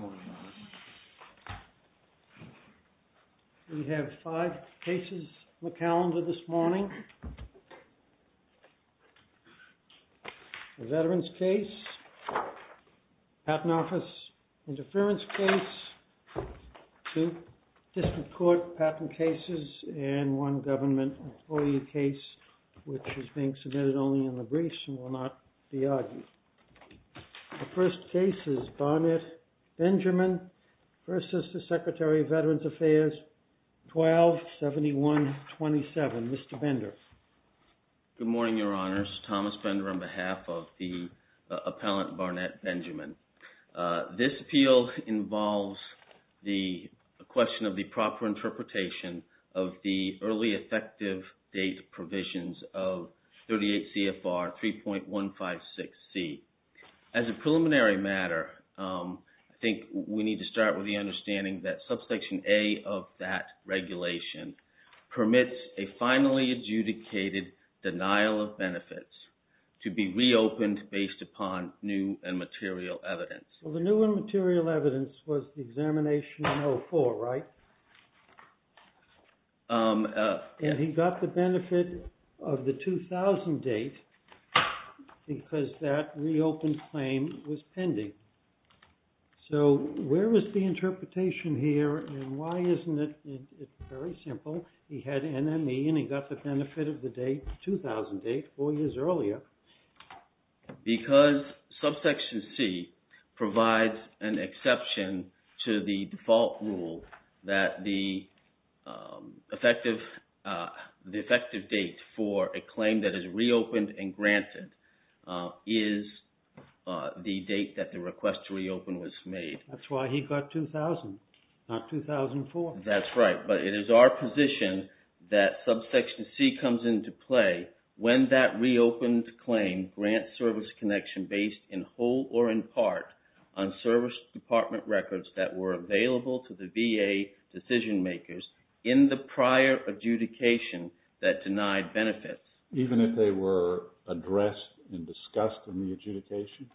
We have five cases on the calendar this morning, a Veterans case, a Patent Office interference case, two District Court patent cases, and one government employee case which is being submitted only in the briefs and will not be argued. The first case is Barnett Benjamin v. Secretary of Veterans Affairs 1271-27. Mr. Bender. Good morning, Your Honors. Thomas Bender on behalf of the appellant Barnett Benjamin. This appeal involves the question of the proper interpretation of the early effective date provisions of Section 38 CFR 3.156C. As a preliminary matter, I think we need to start with the understanding that Subsection A of that regulation permits a finally adjudicated denial of benefits to be reopened based upon new and material evidence. So the new and material evidence was the examination in 2004, right? And he got the benefit of the 2000 date because that reopened claim was pending. So where was the interpretation here and why isn't it very simple? He had NME and he got the benefit of the date 2008, four years earlier. Because Subsection C provides an exception to the default rule that the effective date for a claim that is reopened and granted is the date that the request to reopen was made. That's why he got 2000, not 2004. That's right, but it is our position that Subsection C comes into play when that reopened claim grants service connection based in whole or in part on service department records that were available to the VA decision makers in the prior adjudication that denied benefits. Even if they were addressed and discussed in the adjudication?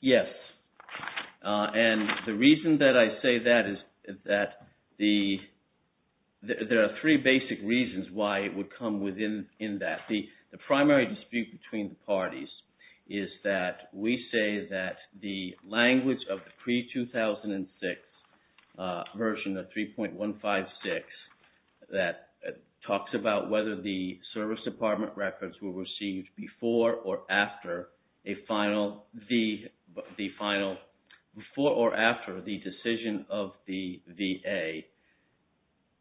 Yes, and the reason that I say that is that there are three basic reasons why it would come within that. The primary dispute between the parties is that we say that the language of the pre-2006 version of 3.156 that talks about whether the final before or after the decision of the VA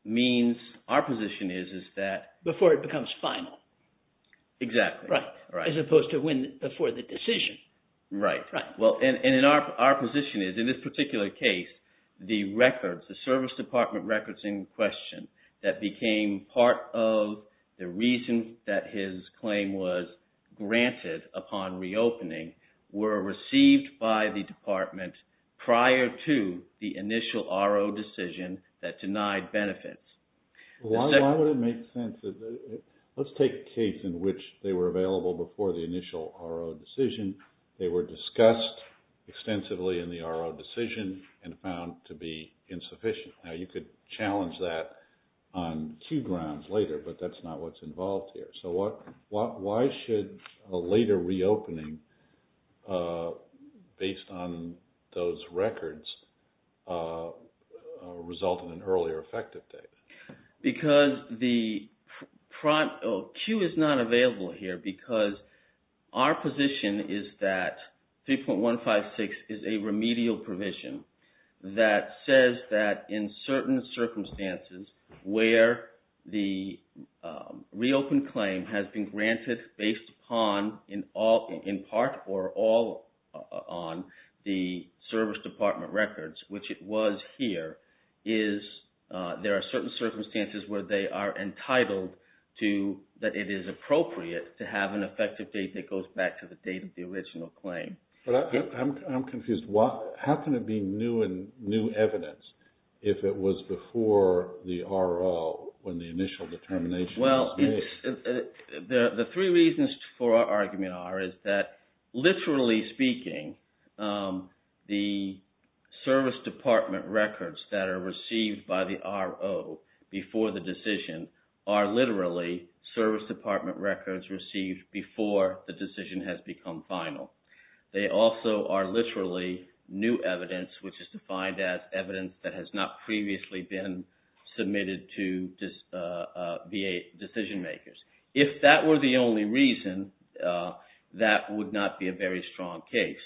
means our position is that... Before it becomes final. Exactly. As opposed to when before the decision. Right, and our position is in this particular case, the records, the service department records in question that became part of the reason that his claim was granted upon reopening were received by the department prior to the initial RO decision that denied benefits. Why would it make sense? Let's take a case in which they were available before the initial RO decision. They were discussed extensively in the RO decision and found to be insufficient. Now you could challenge that on two grounds later, but that's not what's involved here. So why should a later reopening based on those records result in an earlier effective date? Q is not available here because our position is that 3.156 is a remedial provision that says that in certain circumstances where the reopened claim has been entitled to that it is appropriate to have an effective date that goes back to the date of the original claim. I'm confused. How can it be new evidence if it was before the RO when the initial determination was made? The three reasons for our argument are that literally speaking, the service department records that are received by the RO before the decision are literally service department records received before the decision has become final. They also are literally new evidence, which is defined as evidence that has not previously been submitted to VA decision makers. If that were the only reason, that would not be a very strong case.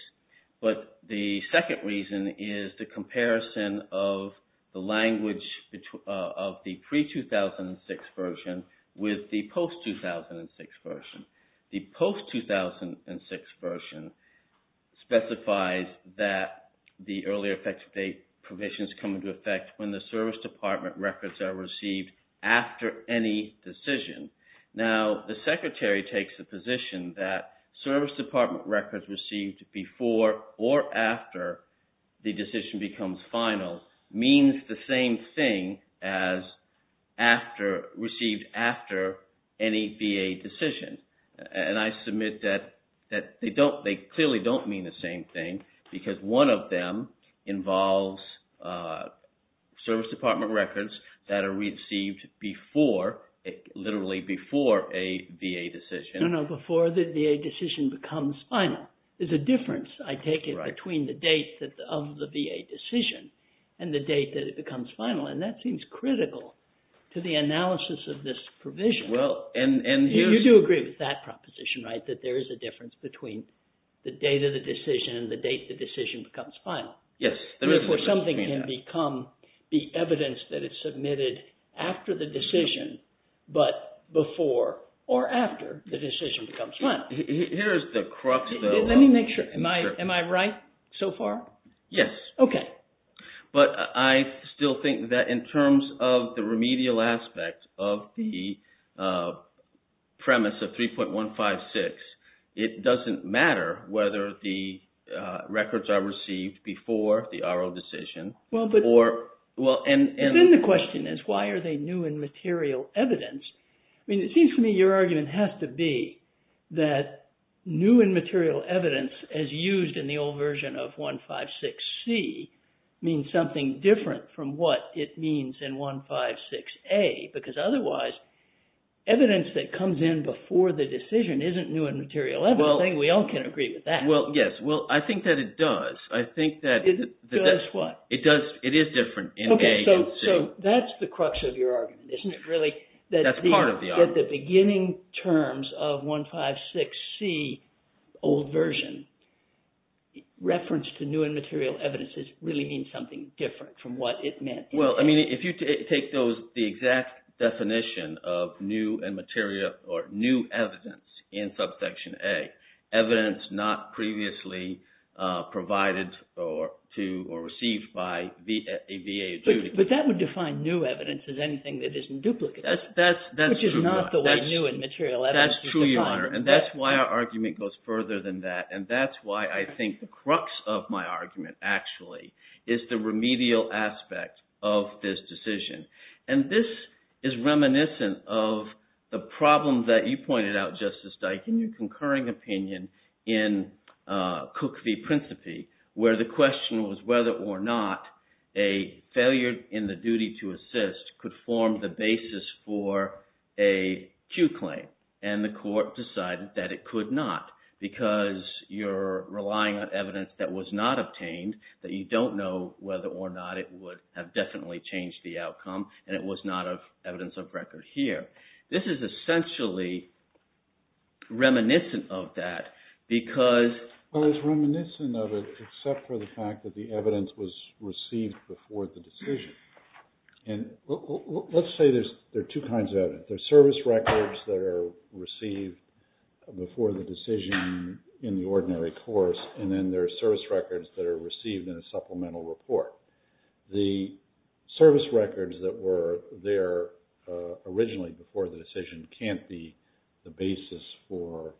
But the second reason is the comparison of the language of the pre-2006 version with the post-2006 version. The post-2006 version specifies that the earlier effective date provisions come into effect when the service department records are received after any decision. Now, the secretary takes the position that service department records received before or after the decision becomes final means the same thing as received after any VA decision. And I submit that they clearly don't mean the same thing because one of them involves service department records that are received literally before a VA decision. No, no, before the VA decision becomes final. There's a difference, I take it, between the date of the VA decision and the date that it becomes final. And that seems critical to the analysis of this provision. You do agree with that proposition, right, that there is a difference between the date of the decision and the date the decision becomes final. Yes, there is a difference between that. Before something can become the evidence that is submitted after the decision, but before or after the decision becomes final. Here's the crux, though. Let me make sure. Am I right so far? Yes. Okay. But I still think that in terms of the remedial aspect of the premise of 3.156, it doesn't matter whether the records are received before the RO decision. Then the question is, why are they new and material evidence? I mean, it seems to me your argument has to be that new and material evidence, as used in the old version of 1.56c, means something different from what it means in 1.56a. Because otherwise, evidence that comes in before the decision isn't new and material evidence. I think we all can agree with that. Well, yes. Well, I think that it does. It does what? It does. It is different in a and c. Okay, so that's the crux of your argument, isn't it, really? That's part of the argument. That the beginning terms of 1.56c, the old version, reference to new and material evidence really means something different from what it meant. Well, I mean, if you take the exact definition of new and material or new evidence in subsection a, evidence not previously provided to or received by a VA duty. But that would define new evidence as anything that isn't duplicate. That's true, Your Honor. Which is not the way new and material evidence is defined. And that's why our argument goes further than that. And that's why I think the crux of my argument, actually, is the remedial aspect of this decision. And this is reminiscent of the problem that you pointed out, Justice Dike, in your concurring opinion in Cook v. Principi, where the question was whether or not a failure in the duty to assist could form the basis for a cue claim. And the court decided that it could not because you're relying on evidence that was not obtained, that you don't know whether or not it would have definitely changed the outcome, and it was not evidence of record here. This is essentially reminiscent of that because… Well, it's reminiscent of it except for the fact that the evidence was received before the decision. And let's say there are two kinds of evidence. There are service records that are received before the decision in the ordinary course, and then there are service records that are received in a supplemental report. The service records that were there originally before the decision can't be the basis for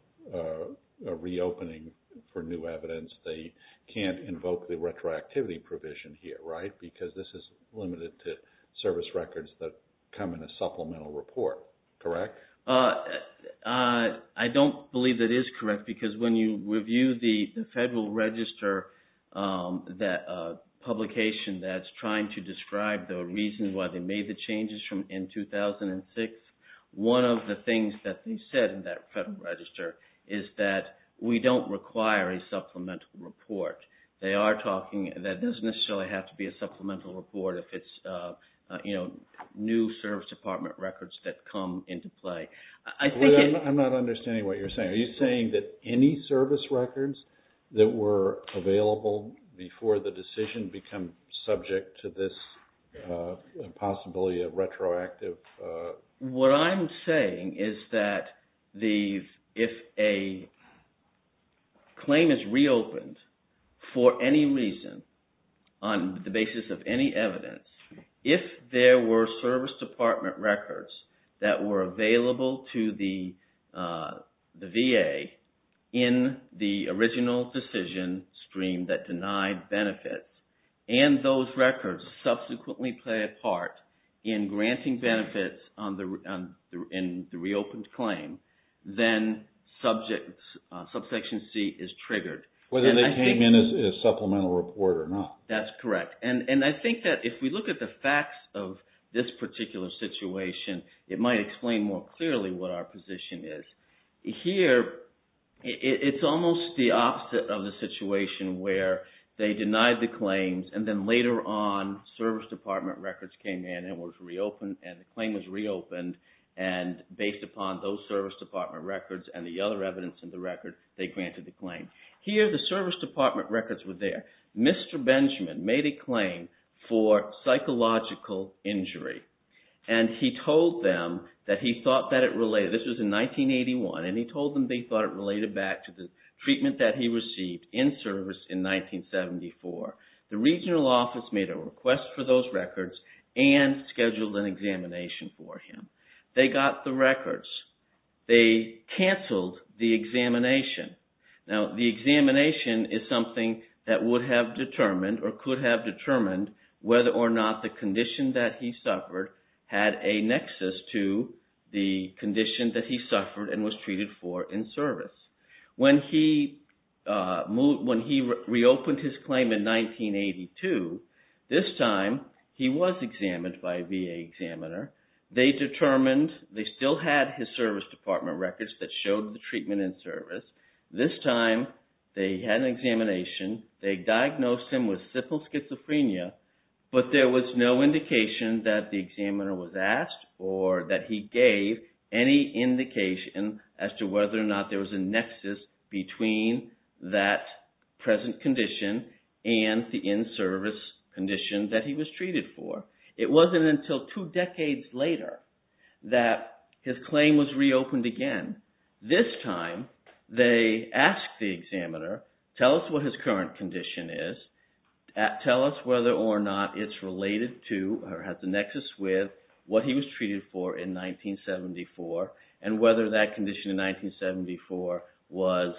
a reopening for new evidence. They can't invoke the retroactivity provision here, right, because this is limited to service records that come in a supplemental report, correct? I don't believe that is correct because when you review the Federal Register publication that's trying to describe the reasons why they made the changes in 2006, one of the things that they said in that Federal Register is that we don't require a supplemental report. They are talking that it doesn't necessarily have to be a supplemental report if it's new service department records that come into play. I'm not understanding what you're saying. Are you saying that any service records that were available before the decision become subject to this possibility of retroactive… in the original decision stream that denied benefits, and those records subsequently play a part in granting benefits in the reopened claim, then Subsection C is triggered? Whether they came in as a supplemental report or not. That's correct. And I think that if we look at the facts of this particular situation, it might explain more clearly what our position is. Here, it's almost the opposite of the situation where they denied the claims and then later on, service department records came in and the claim was reopened, and based upon those service department records and the other evidence in the record, they granted the claim. Here, the service department records were there. Mr. Benjamin made a claim for psychological injury, and he told them that he thought that it related. This was in 1981, and he told them that he thought it related back to the treatment that he received in service in 1974. The regional office made a request for those records and scheduled an examination for him. They got the records. They canceled the examination. Now, the examination is something that would have determined or could have determined whether or not the condition that he suffered had a nexus to the condition that he suffered and was treated for in service. When he reopened his claim in 1982, this time he was examined by a VA examiner. They determined they still had his service department records that showed the treatment in service. This time, they had an examination. They diagnosed him with simple schizophrenia, but there was no indication that the examiner was asked or that he gave any indication as to whether or not there was a nexus between that present condition and the in-service condition that he was treated for. It wasn't until two decades later that his claim was reopened again. This time, they asked the examiner, tell us what his current condition is. Tell us whether or not it's related to or has a nexus with what he was treated for in 1974 and whether that condition in 1974 was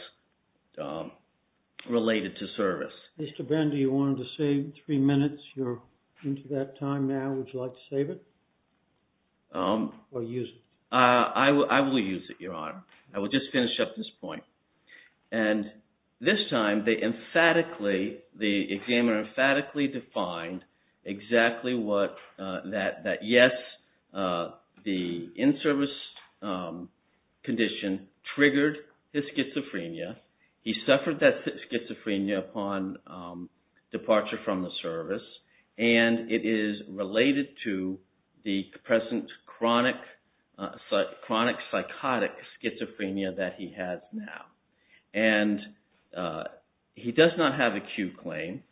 related to service. Mr. Bender, you wanted to save three minutes. You're into that time now. Would you like to save it or use it? I will use it, Your Honor. I will just finish up this point. This time, the examiner emphatically defined exactly what that yes, the in-service condition triggered his schizophrenia. He suffered that schizophrenia upon departure from the service, and it is related to the present chronic psychotic schizophrenia that he has now. He does not have an acute claim.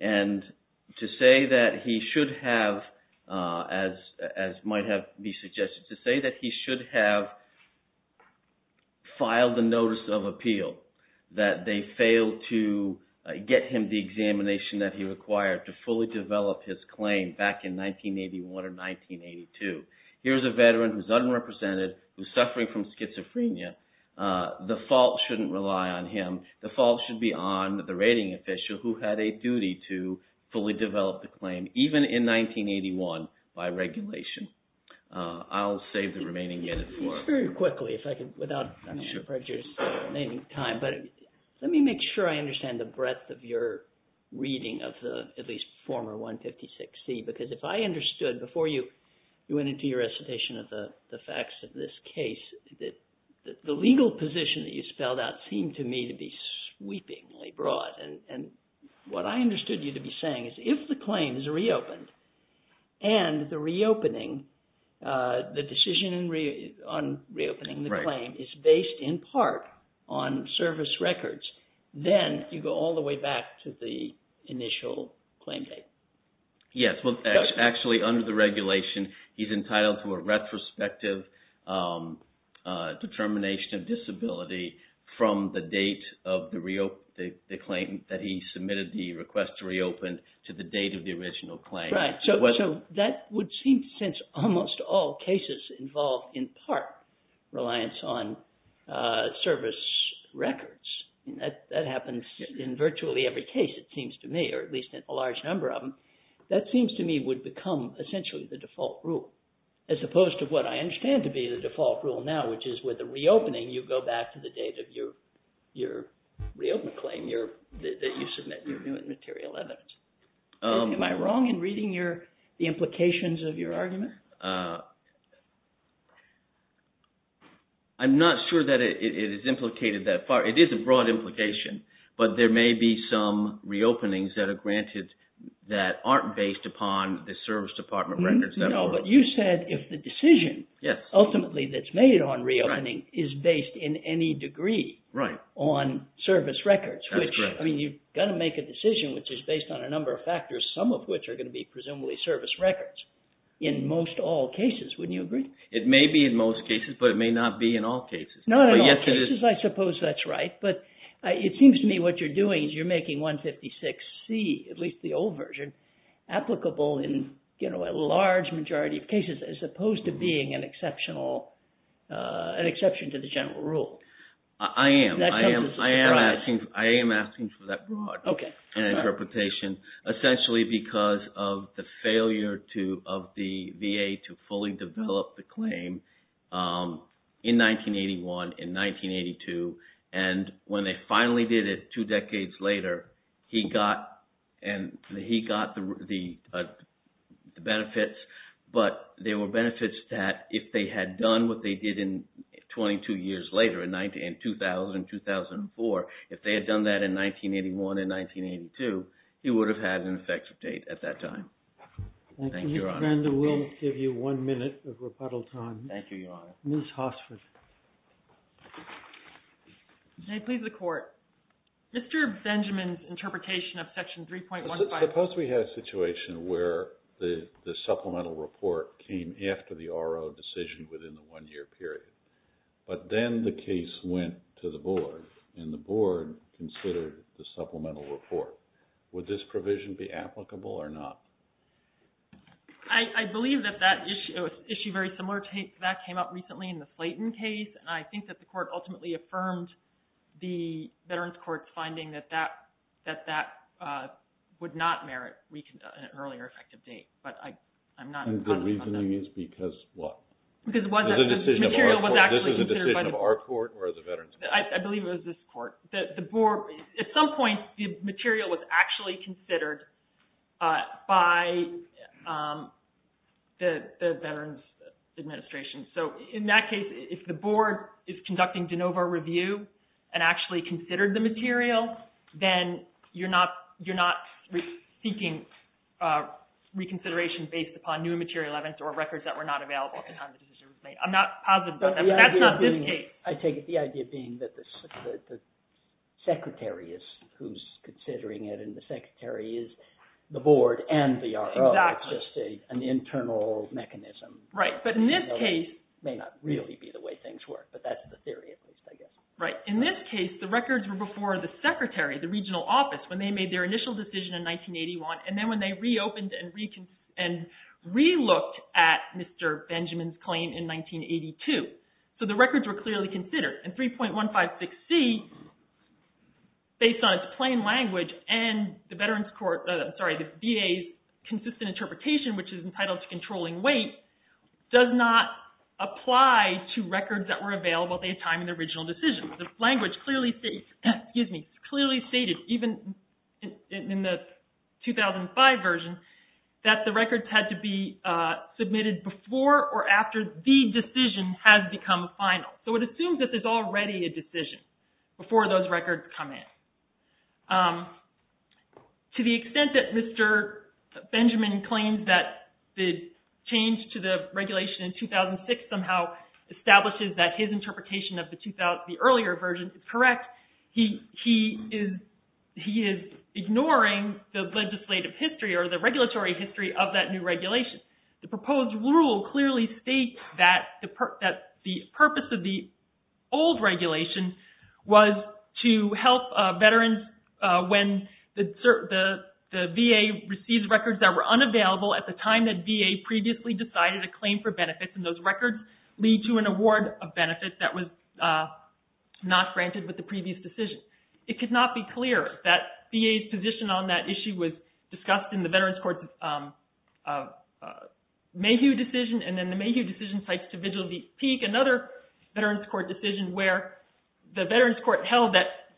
To say that he should have, as might have been suggested, to say that he should have filed a notice of appeal, that they failed to get him the examination that he required to fully develop his claim back in 1981 or 1982. Here's a veteran who's unrepresented, who's suffering from schizophrenia. The fault shouldn't rely on him. The fault should be on the rating official who had a duty to fully develop the claim, even in 1981, by regulation. I'll save the remaining minutes for it. Let me make sure I understand the breadth of your reading of the at least former 156C, because if I understood before you went into your recitation of the facts of this case, the legal position that you spelled out seemed to me to be sweepingly broad. What I understood you to be saying is if the claim is reopened and the decision on reopening the claim is based in part on service records, then you go all the way back to the initial claim date. Yes. Actually, under the regulation, he's entitled to a retrospective determination of disability from the date of the claim that he submitted the request to reopen to the date of the original claim. Right. So that would seem to sense almost all cases involved in part reliance on service records. That happens in virtually every case, it seems to me, or at least in a large number of them. That seems to me would become essentially the default rule, as opposed to what I understand to be the default rule now, which is with a reopening, you go back to the date of your reopened claim that you submit your new and material evidence. Am I wrong in reading the implications of your argument? I'm not sure that it is implicated that far. It is a broad implication, but there may be some reopenings that are granted that aren't based upon the service department records. No, but you said if the decision ultimately that's made on reopening is based in any degree on service records, which, I mean, you've got to make a decision which is based on a number of factors, some of which are going to be presumably service records, in most all cases, wouldn't you agree? It may be in most cases, but it may not be in all cases. Not in all cases, I suppose that's right, but it seems to me what you're doing is you're making 156C, at least the old version, applicable in a large majority of cases, as opposed to being an exception to the general rule. I am. I am asking for that broad interpretation, essentially because of the failure of the VA to fully develop the claim in 1981, in 1982, and when they finally did it two decades later, he got the benefits, but there were benefits that if they had done what they did in 22 years later, in 2000, 2004, if they had done that in 1981 and 1982, he would have had an effective date at that time. Thank you, Your Honor. Thank you, Mr. Brando. We'll give you one minute of rebuttal time. Thank you, Your Honor. Ms. Hossford. May it please the Court. Mr. Benjamin's interpretation of Section 3.15… I suppose we had a situation where the supplemental report came after the RO decision within the one-year period, but then the case went to the Board, and the Board considered the supplemental report. Would this provision be applicable or not? I believe that that issue, an issue very similar to that, came up recently in the Slayton case, and I think that the Court ultimately affirmed the Veterans Court's finding that that would not merit an earlier effective date, but I'm not confident on that. And the reasoning is because what? Because it wasn't. This is a decision of our Court or the Veterans Court? I believe it was this Court. The Board, at some point, the material was actually considered by the Veterans Administration. So in that case, if the Board is conducting de novo review and actually considered the material, then you're not seeking reconsideration based upon new material evidence or records that were not available at the time the decision was made. I'm not positive about that, but that's not this case. I take it the idea being that the Secretary is who's considering it, and the Secretary is the Board and the RO. Exactly. It's just an internal mechanism. Right, but in this case... It may not really be the way things work, but that's the theory, at least, I guess. Right. In this case, the records were before the Secretary, the regional office, when they made their initial decision in 1981, and then when they reopened and relooked at Mr. Benjamin's claim in 1982. So the records were clearly considered. And 3.156C, based on its plain language and the VA's consistent interpretation, which is entitled to controlling weight, does not apply to records that were available at the time in the original decision. The language clearly stated, even in the 2005 version, that the records had to be submitted before or after the decision has become final. So it assumes that there's already a decision before those records come in. To the extent that Mr. Benjamin claims that the change to the regulation in 2006 somehow establishes that his interpretation of the earlier version is correct, he is ignoring the legislative history or the regulatory history of that new regulation. The proposed rule clearly states that the purpose of the old regulation was to help veterans when the VA receives records that were unavailable at the time that VA previously decided a claim for benefits. And those records lead to an award of benefits that was not granted with the previous decision. It could not be clearer that VA's position on that issue was discussed in the Veterans Court's Mayhew decision and then the Mayhew decision cites to Vigil v. Peek, another Veterans Court decision where the Veterans Court held that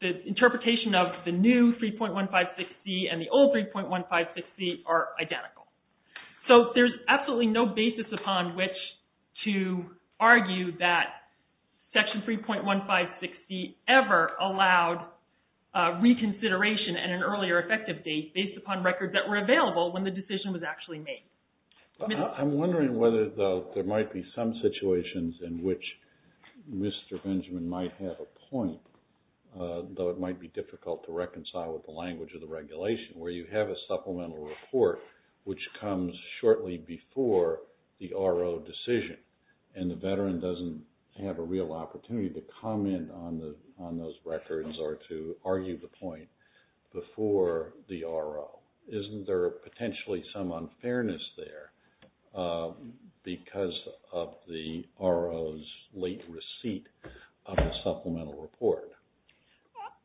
the interpretation of the new 3.156C and the old 3.156C are identical. So there's absolutely no basis upon which to argue that Section 3.156C ever allowed reconsideration at an earlier effective date based upon records that were available when the decision was actually made. I'm wondering whether, though, there might be some situations in which Mr. Benjamin might have a point, though it might be difficult to reconcile with the language of the regulation, where you have a supplemental report which comes shortly before the RO decision and the veteran doesn't have a real opportunity to comment on those records or to argue the point before the RO. Isn't there potentially some unfairness there because of the RO's late receipt of the supplemental report?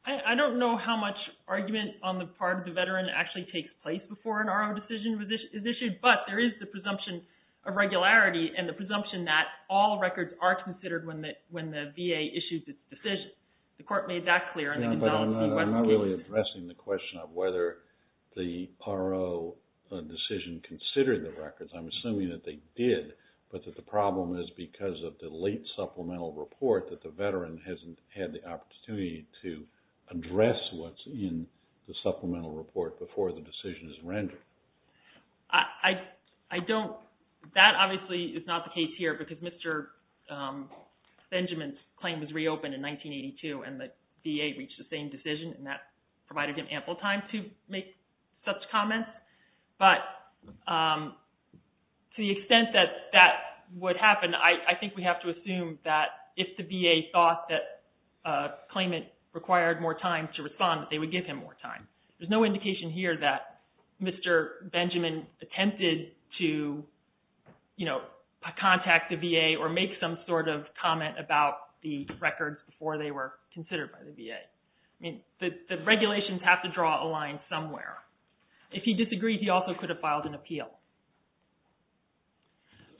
I don't know how much argument on the part of the veteran actually takes place before an RO decision is issued, but there is the presumption of regularity and the presumption that all records are considered when the VA issues its decision. I'm not really addressing the question of whether the RO decision considered the records. I'm assuming that they did, but that the problem is because of the late supplemental report that the veteran hasn't had the opportunity to address what's in the supplemental report before the decision is rendered. That obviously is not the case here because Mr. Benjamin's claim was reopened in 1982 and the VA reached the same decision and that provided him ample time to make such comments. But to the extent that that would happen, I think we have to assume that if the VA thought that a claimant required more time to respond, they would give him more time. There's no indication here that Mr. Benjamin attempted to contact the VA or make some sort of comment about the records before they were considered by the VA. I mean, the regulations have to draw a line somewhere. If he disagreed, he also could have filed an appeal.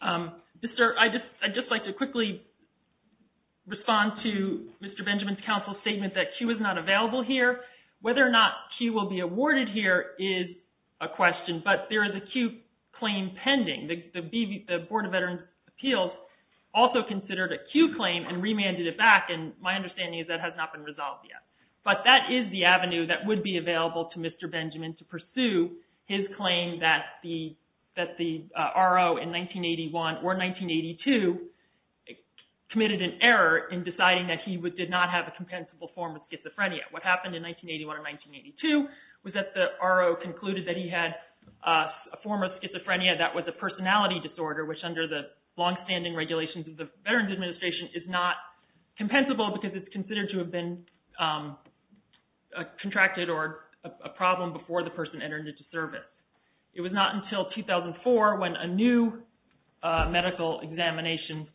I'd just like to quickly respond to Mr. Benjamin's counsel's statement that Q is not available here. But that is the avenue that would be available to Mr. Benjamin to pursue his claim that the RO in 1981 or 1982 committed an error in deciding that he did not have a compensable form of schizophrenia. It was not until 2004 when a new medical examination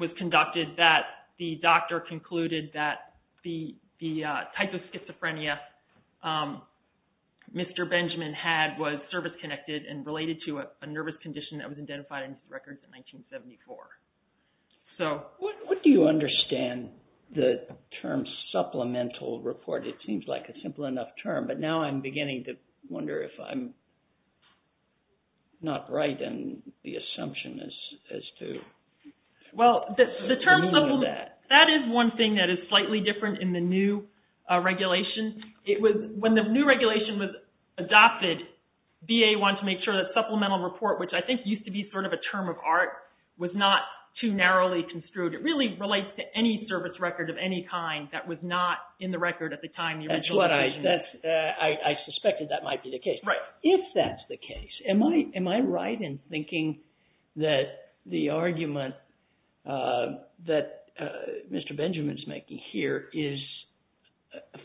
was conducted that the doctor concluded that the type of schizophrenia Mr. Benjamin had was service-connected and related to a nervous condition that was identified in his records in 1974. What do you understand the term supplemental report? It seems like a simple enough term, but now I'm beginning to wonder if I'm not right in the assumption as to the meaning of that. Well, that is one thing that is slightly different in the new regulation. When the new regulation was adopted, VA wanted to make sure that supplemental report, which I think used to be sort of a term of art, was not too narrowly construed. It really relates to any service record of any kind that was not in the record at the time. I suspected that might be the case. If that's the case, am I right in thinking that the argument that Mr. Benjamin's making here is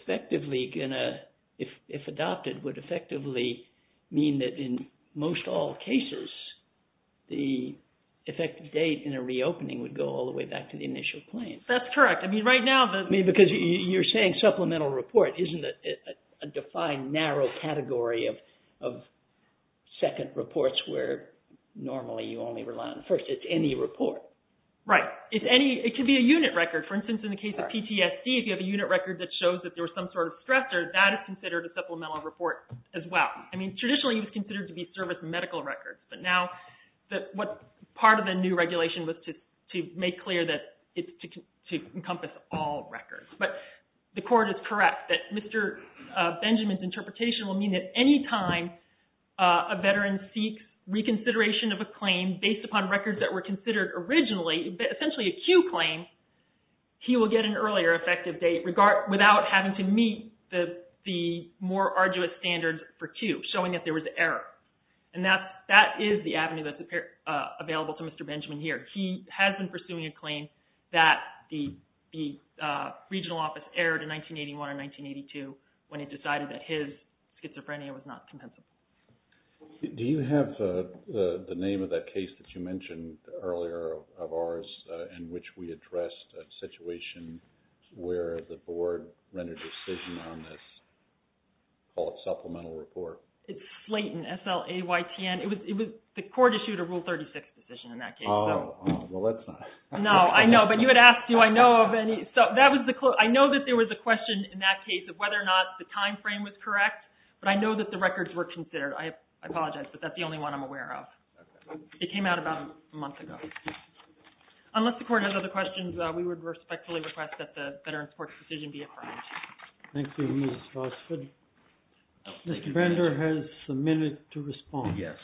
effectively going to, if adopted, would effectively mean that in most all cases, the effective date in a reopening would go all the way back to the initial claim? That's correct. I mean, right now the— Well, isn't it a defined narrow category of second reports where normally you only rely on the first? It's any report. Right. It could be a unit record. For instance, in the case of PTSD, if you have a unit record that shows that there was some sort of stressor, that is considered a supplemental report as well. I mean, traditionally it was considered to be service medical records, but now part of the new regulation was to make clear that it's to encompass all records. But the court is correct that Mr. Benjamin's interpretation will mean that any time a veteran seeks reconsideration of a claim based upon records that were considered originally, essentially a Q claim, he will get an earlier effective date without having to meet the more arduous standards for Q, showing that there was an error. And that is the avenue that's available to Mr. Benjamin here. He has been pursuing a claim that the regional office errored in 1981 or 1982 when it decided that his schizophrenia was not compensable. Do you have the name of that case that you mentioned earlier of ours in which we addressed a situation where the board rendered a decision on this, call it supplemental report? It's Slayton, S-L-A-Y-T-O-N. The court issued a Rule 36 decision in that case. Oh, well that's not... No, I know, but you had asked do I know of any... I know that there was a question in that case of whether or not the time frame was correct, but I know that the records were considered. I apologize, but that's the only one I'm aware of. It came out about a month ago. Unless the court has other questions, we would respectfully request that the Veterans Court's decision be affirmed. Thank you, Ms. Rossford. Mr. Bender has a minute to respond. Yes.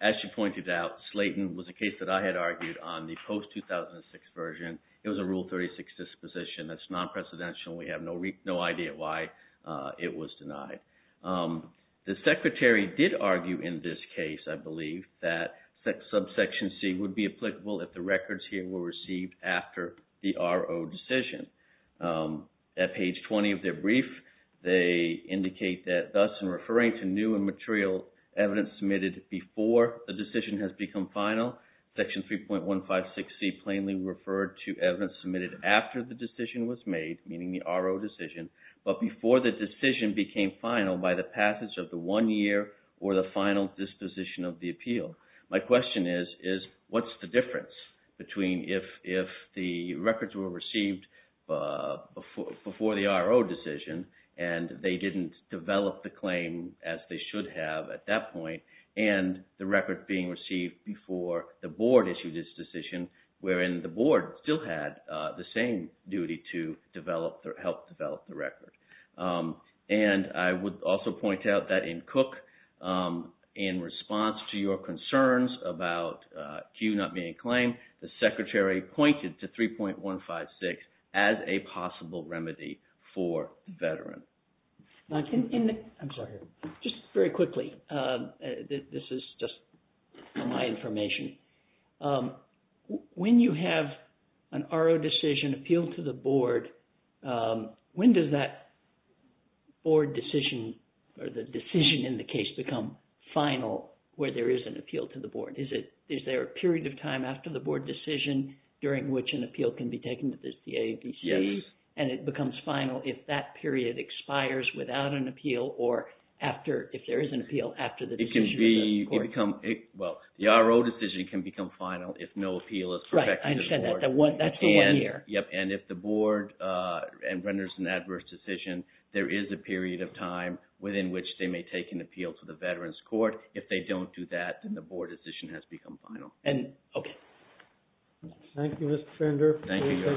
As she pointed out, Slayton was a case that I had argued on the post-2006 version. It was a Rule 36 disposition that's non-precedential. We have no idea why it was denied. The Secretary did argue in this case, I believe, that subsection C would be applicable if the records here were received after the RO decision. At page 20 of their brief, they indicate that thus in referring to new and material evidence submitted before the decision has become final, section 3.156C plainly referred to evidence submitted after the decision was made, meaning the RO decision, but before the decision became final by the passage of the one year or the final disposition of the appeal. My question is, what's the difference between if the records were received before the RO decision and they didn't develop the claim as they should have at that point, and the record being received before the board issued its decision, wherein the board still had the same duty to develop or help develop the record? And I would also point out that in Cook, in response to your concerns about Q not being a claim, the Secretary pointed to 3.156 as a possible remedy for the veteran. Just very quickly, this is just my information. When you have an RO decision appealed to the board, when does that board decision or the decision in the case become final where there is an appeal to the board? Is there a period of time after the board decision during which an appeal can be taken to the DAVC? Yes. And it becomes final if that period expires without an appeal or if there is an appeal after the decision of the court? Well, the RO decision can become final if no appeal is perfected to the board. Right, I understand that. That's the one year. Yes, and if the board renders an adverse decision, there is a period of time within which they may take an appeal to the Veterans Court. If they don't do that, then the board decision has become final. Thank you, Mr. Fender. Thank you.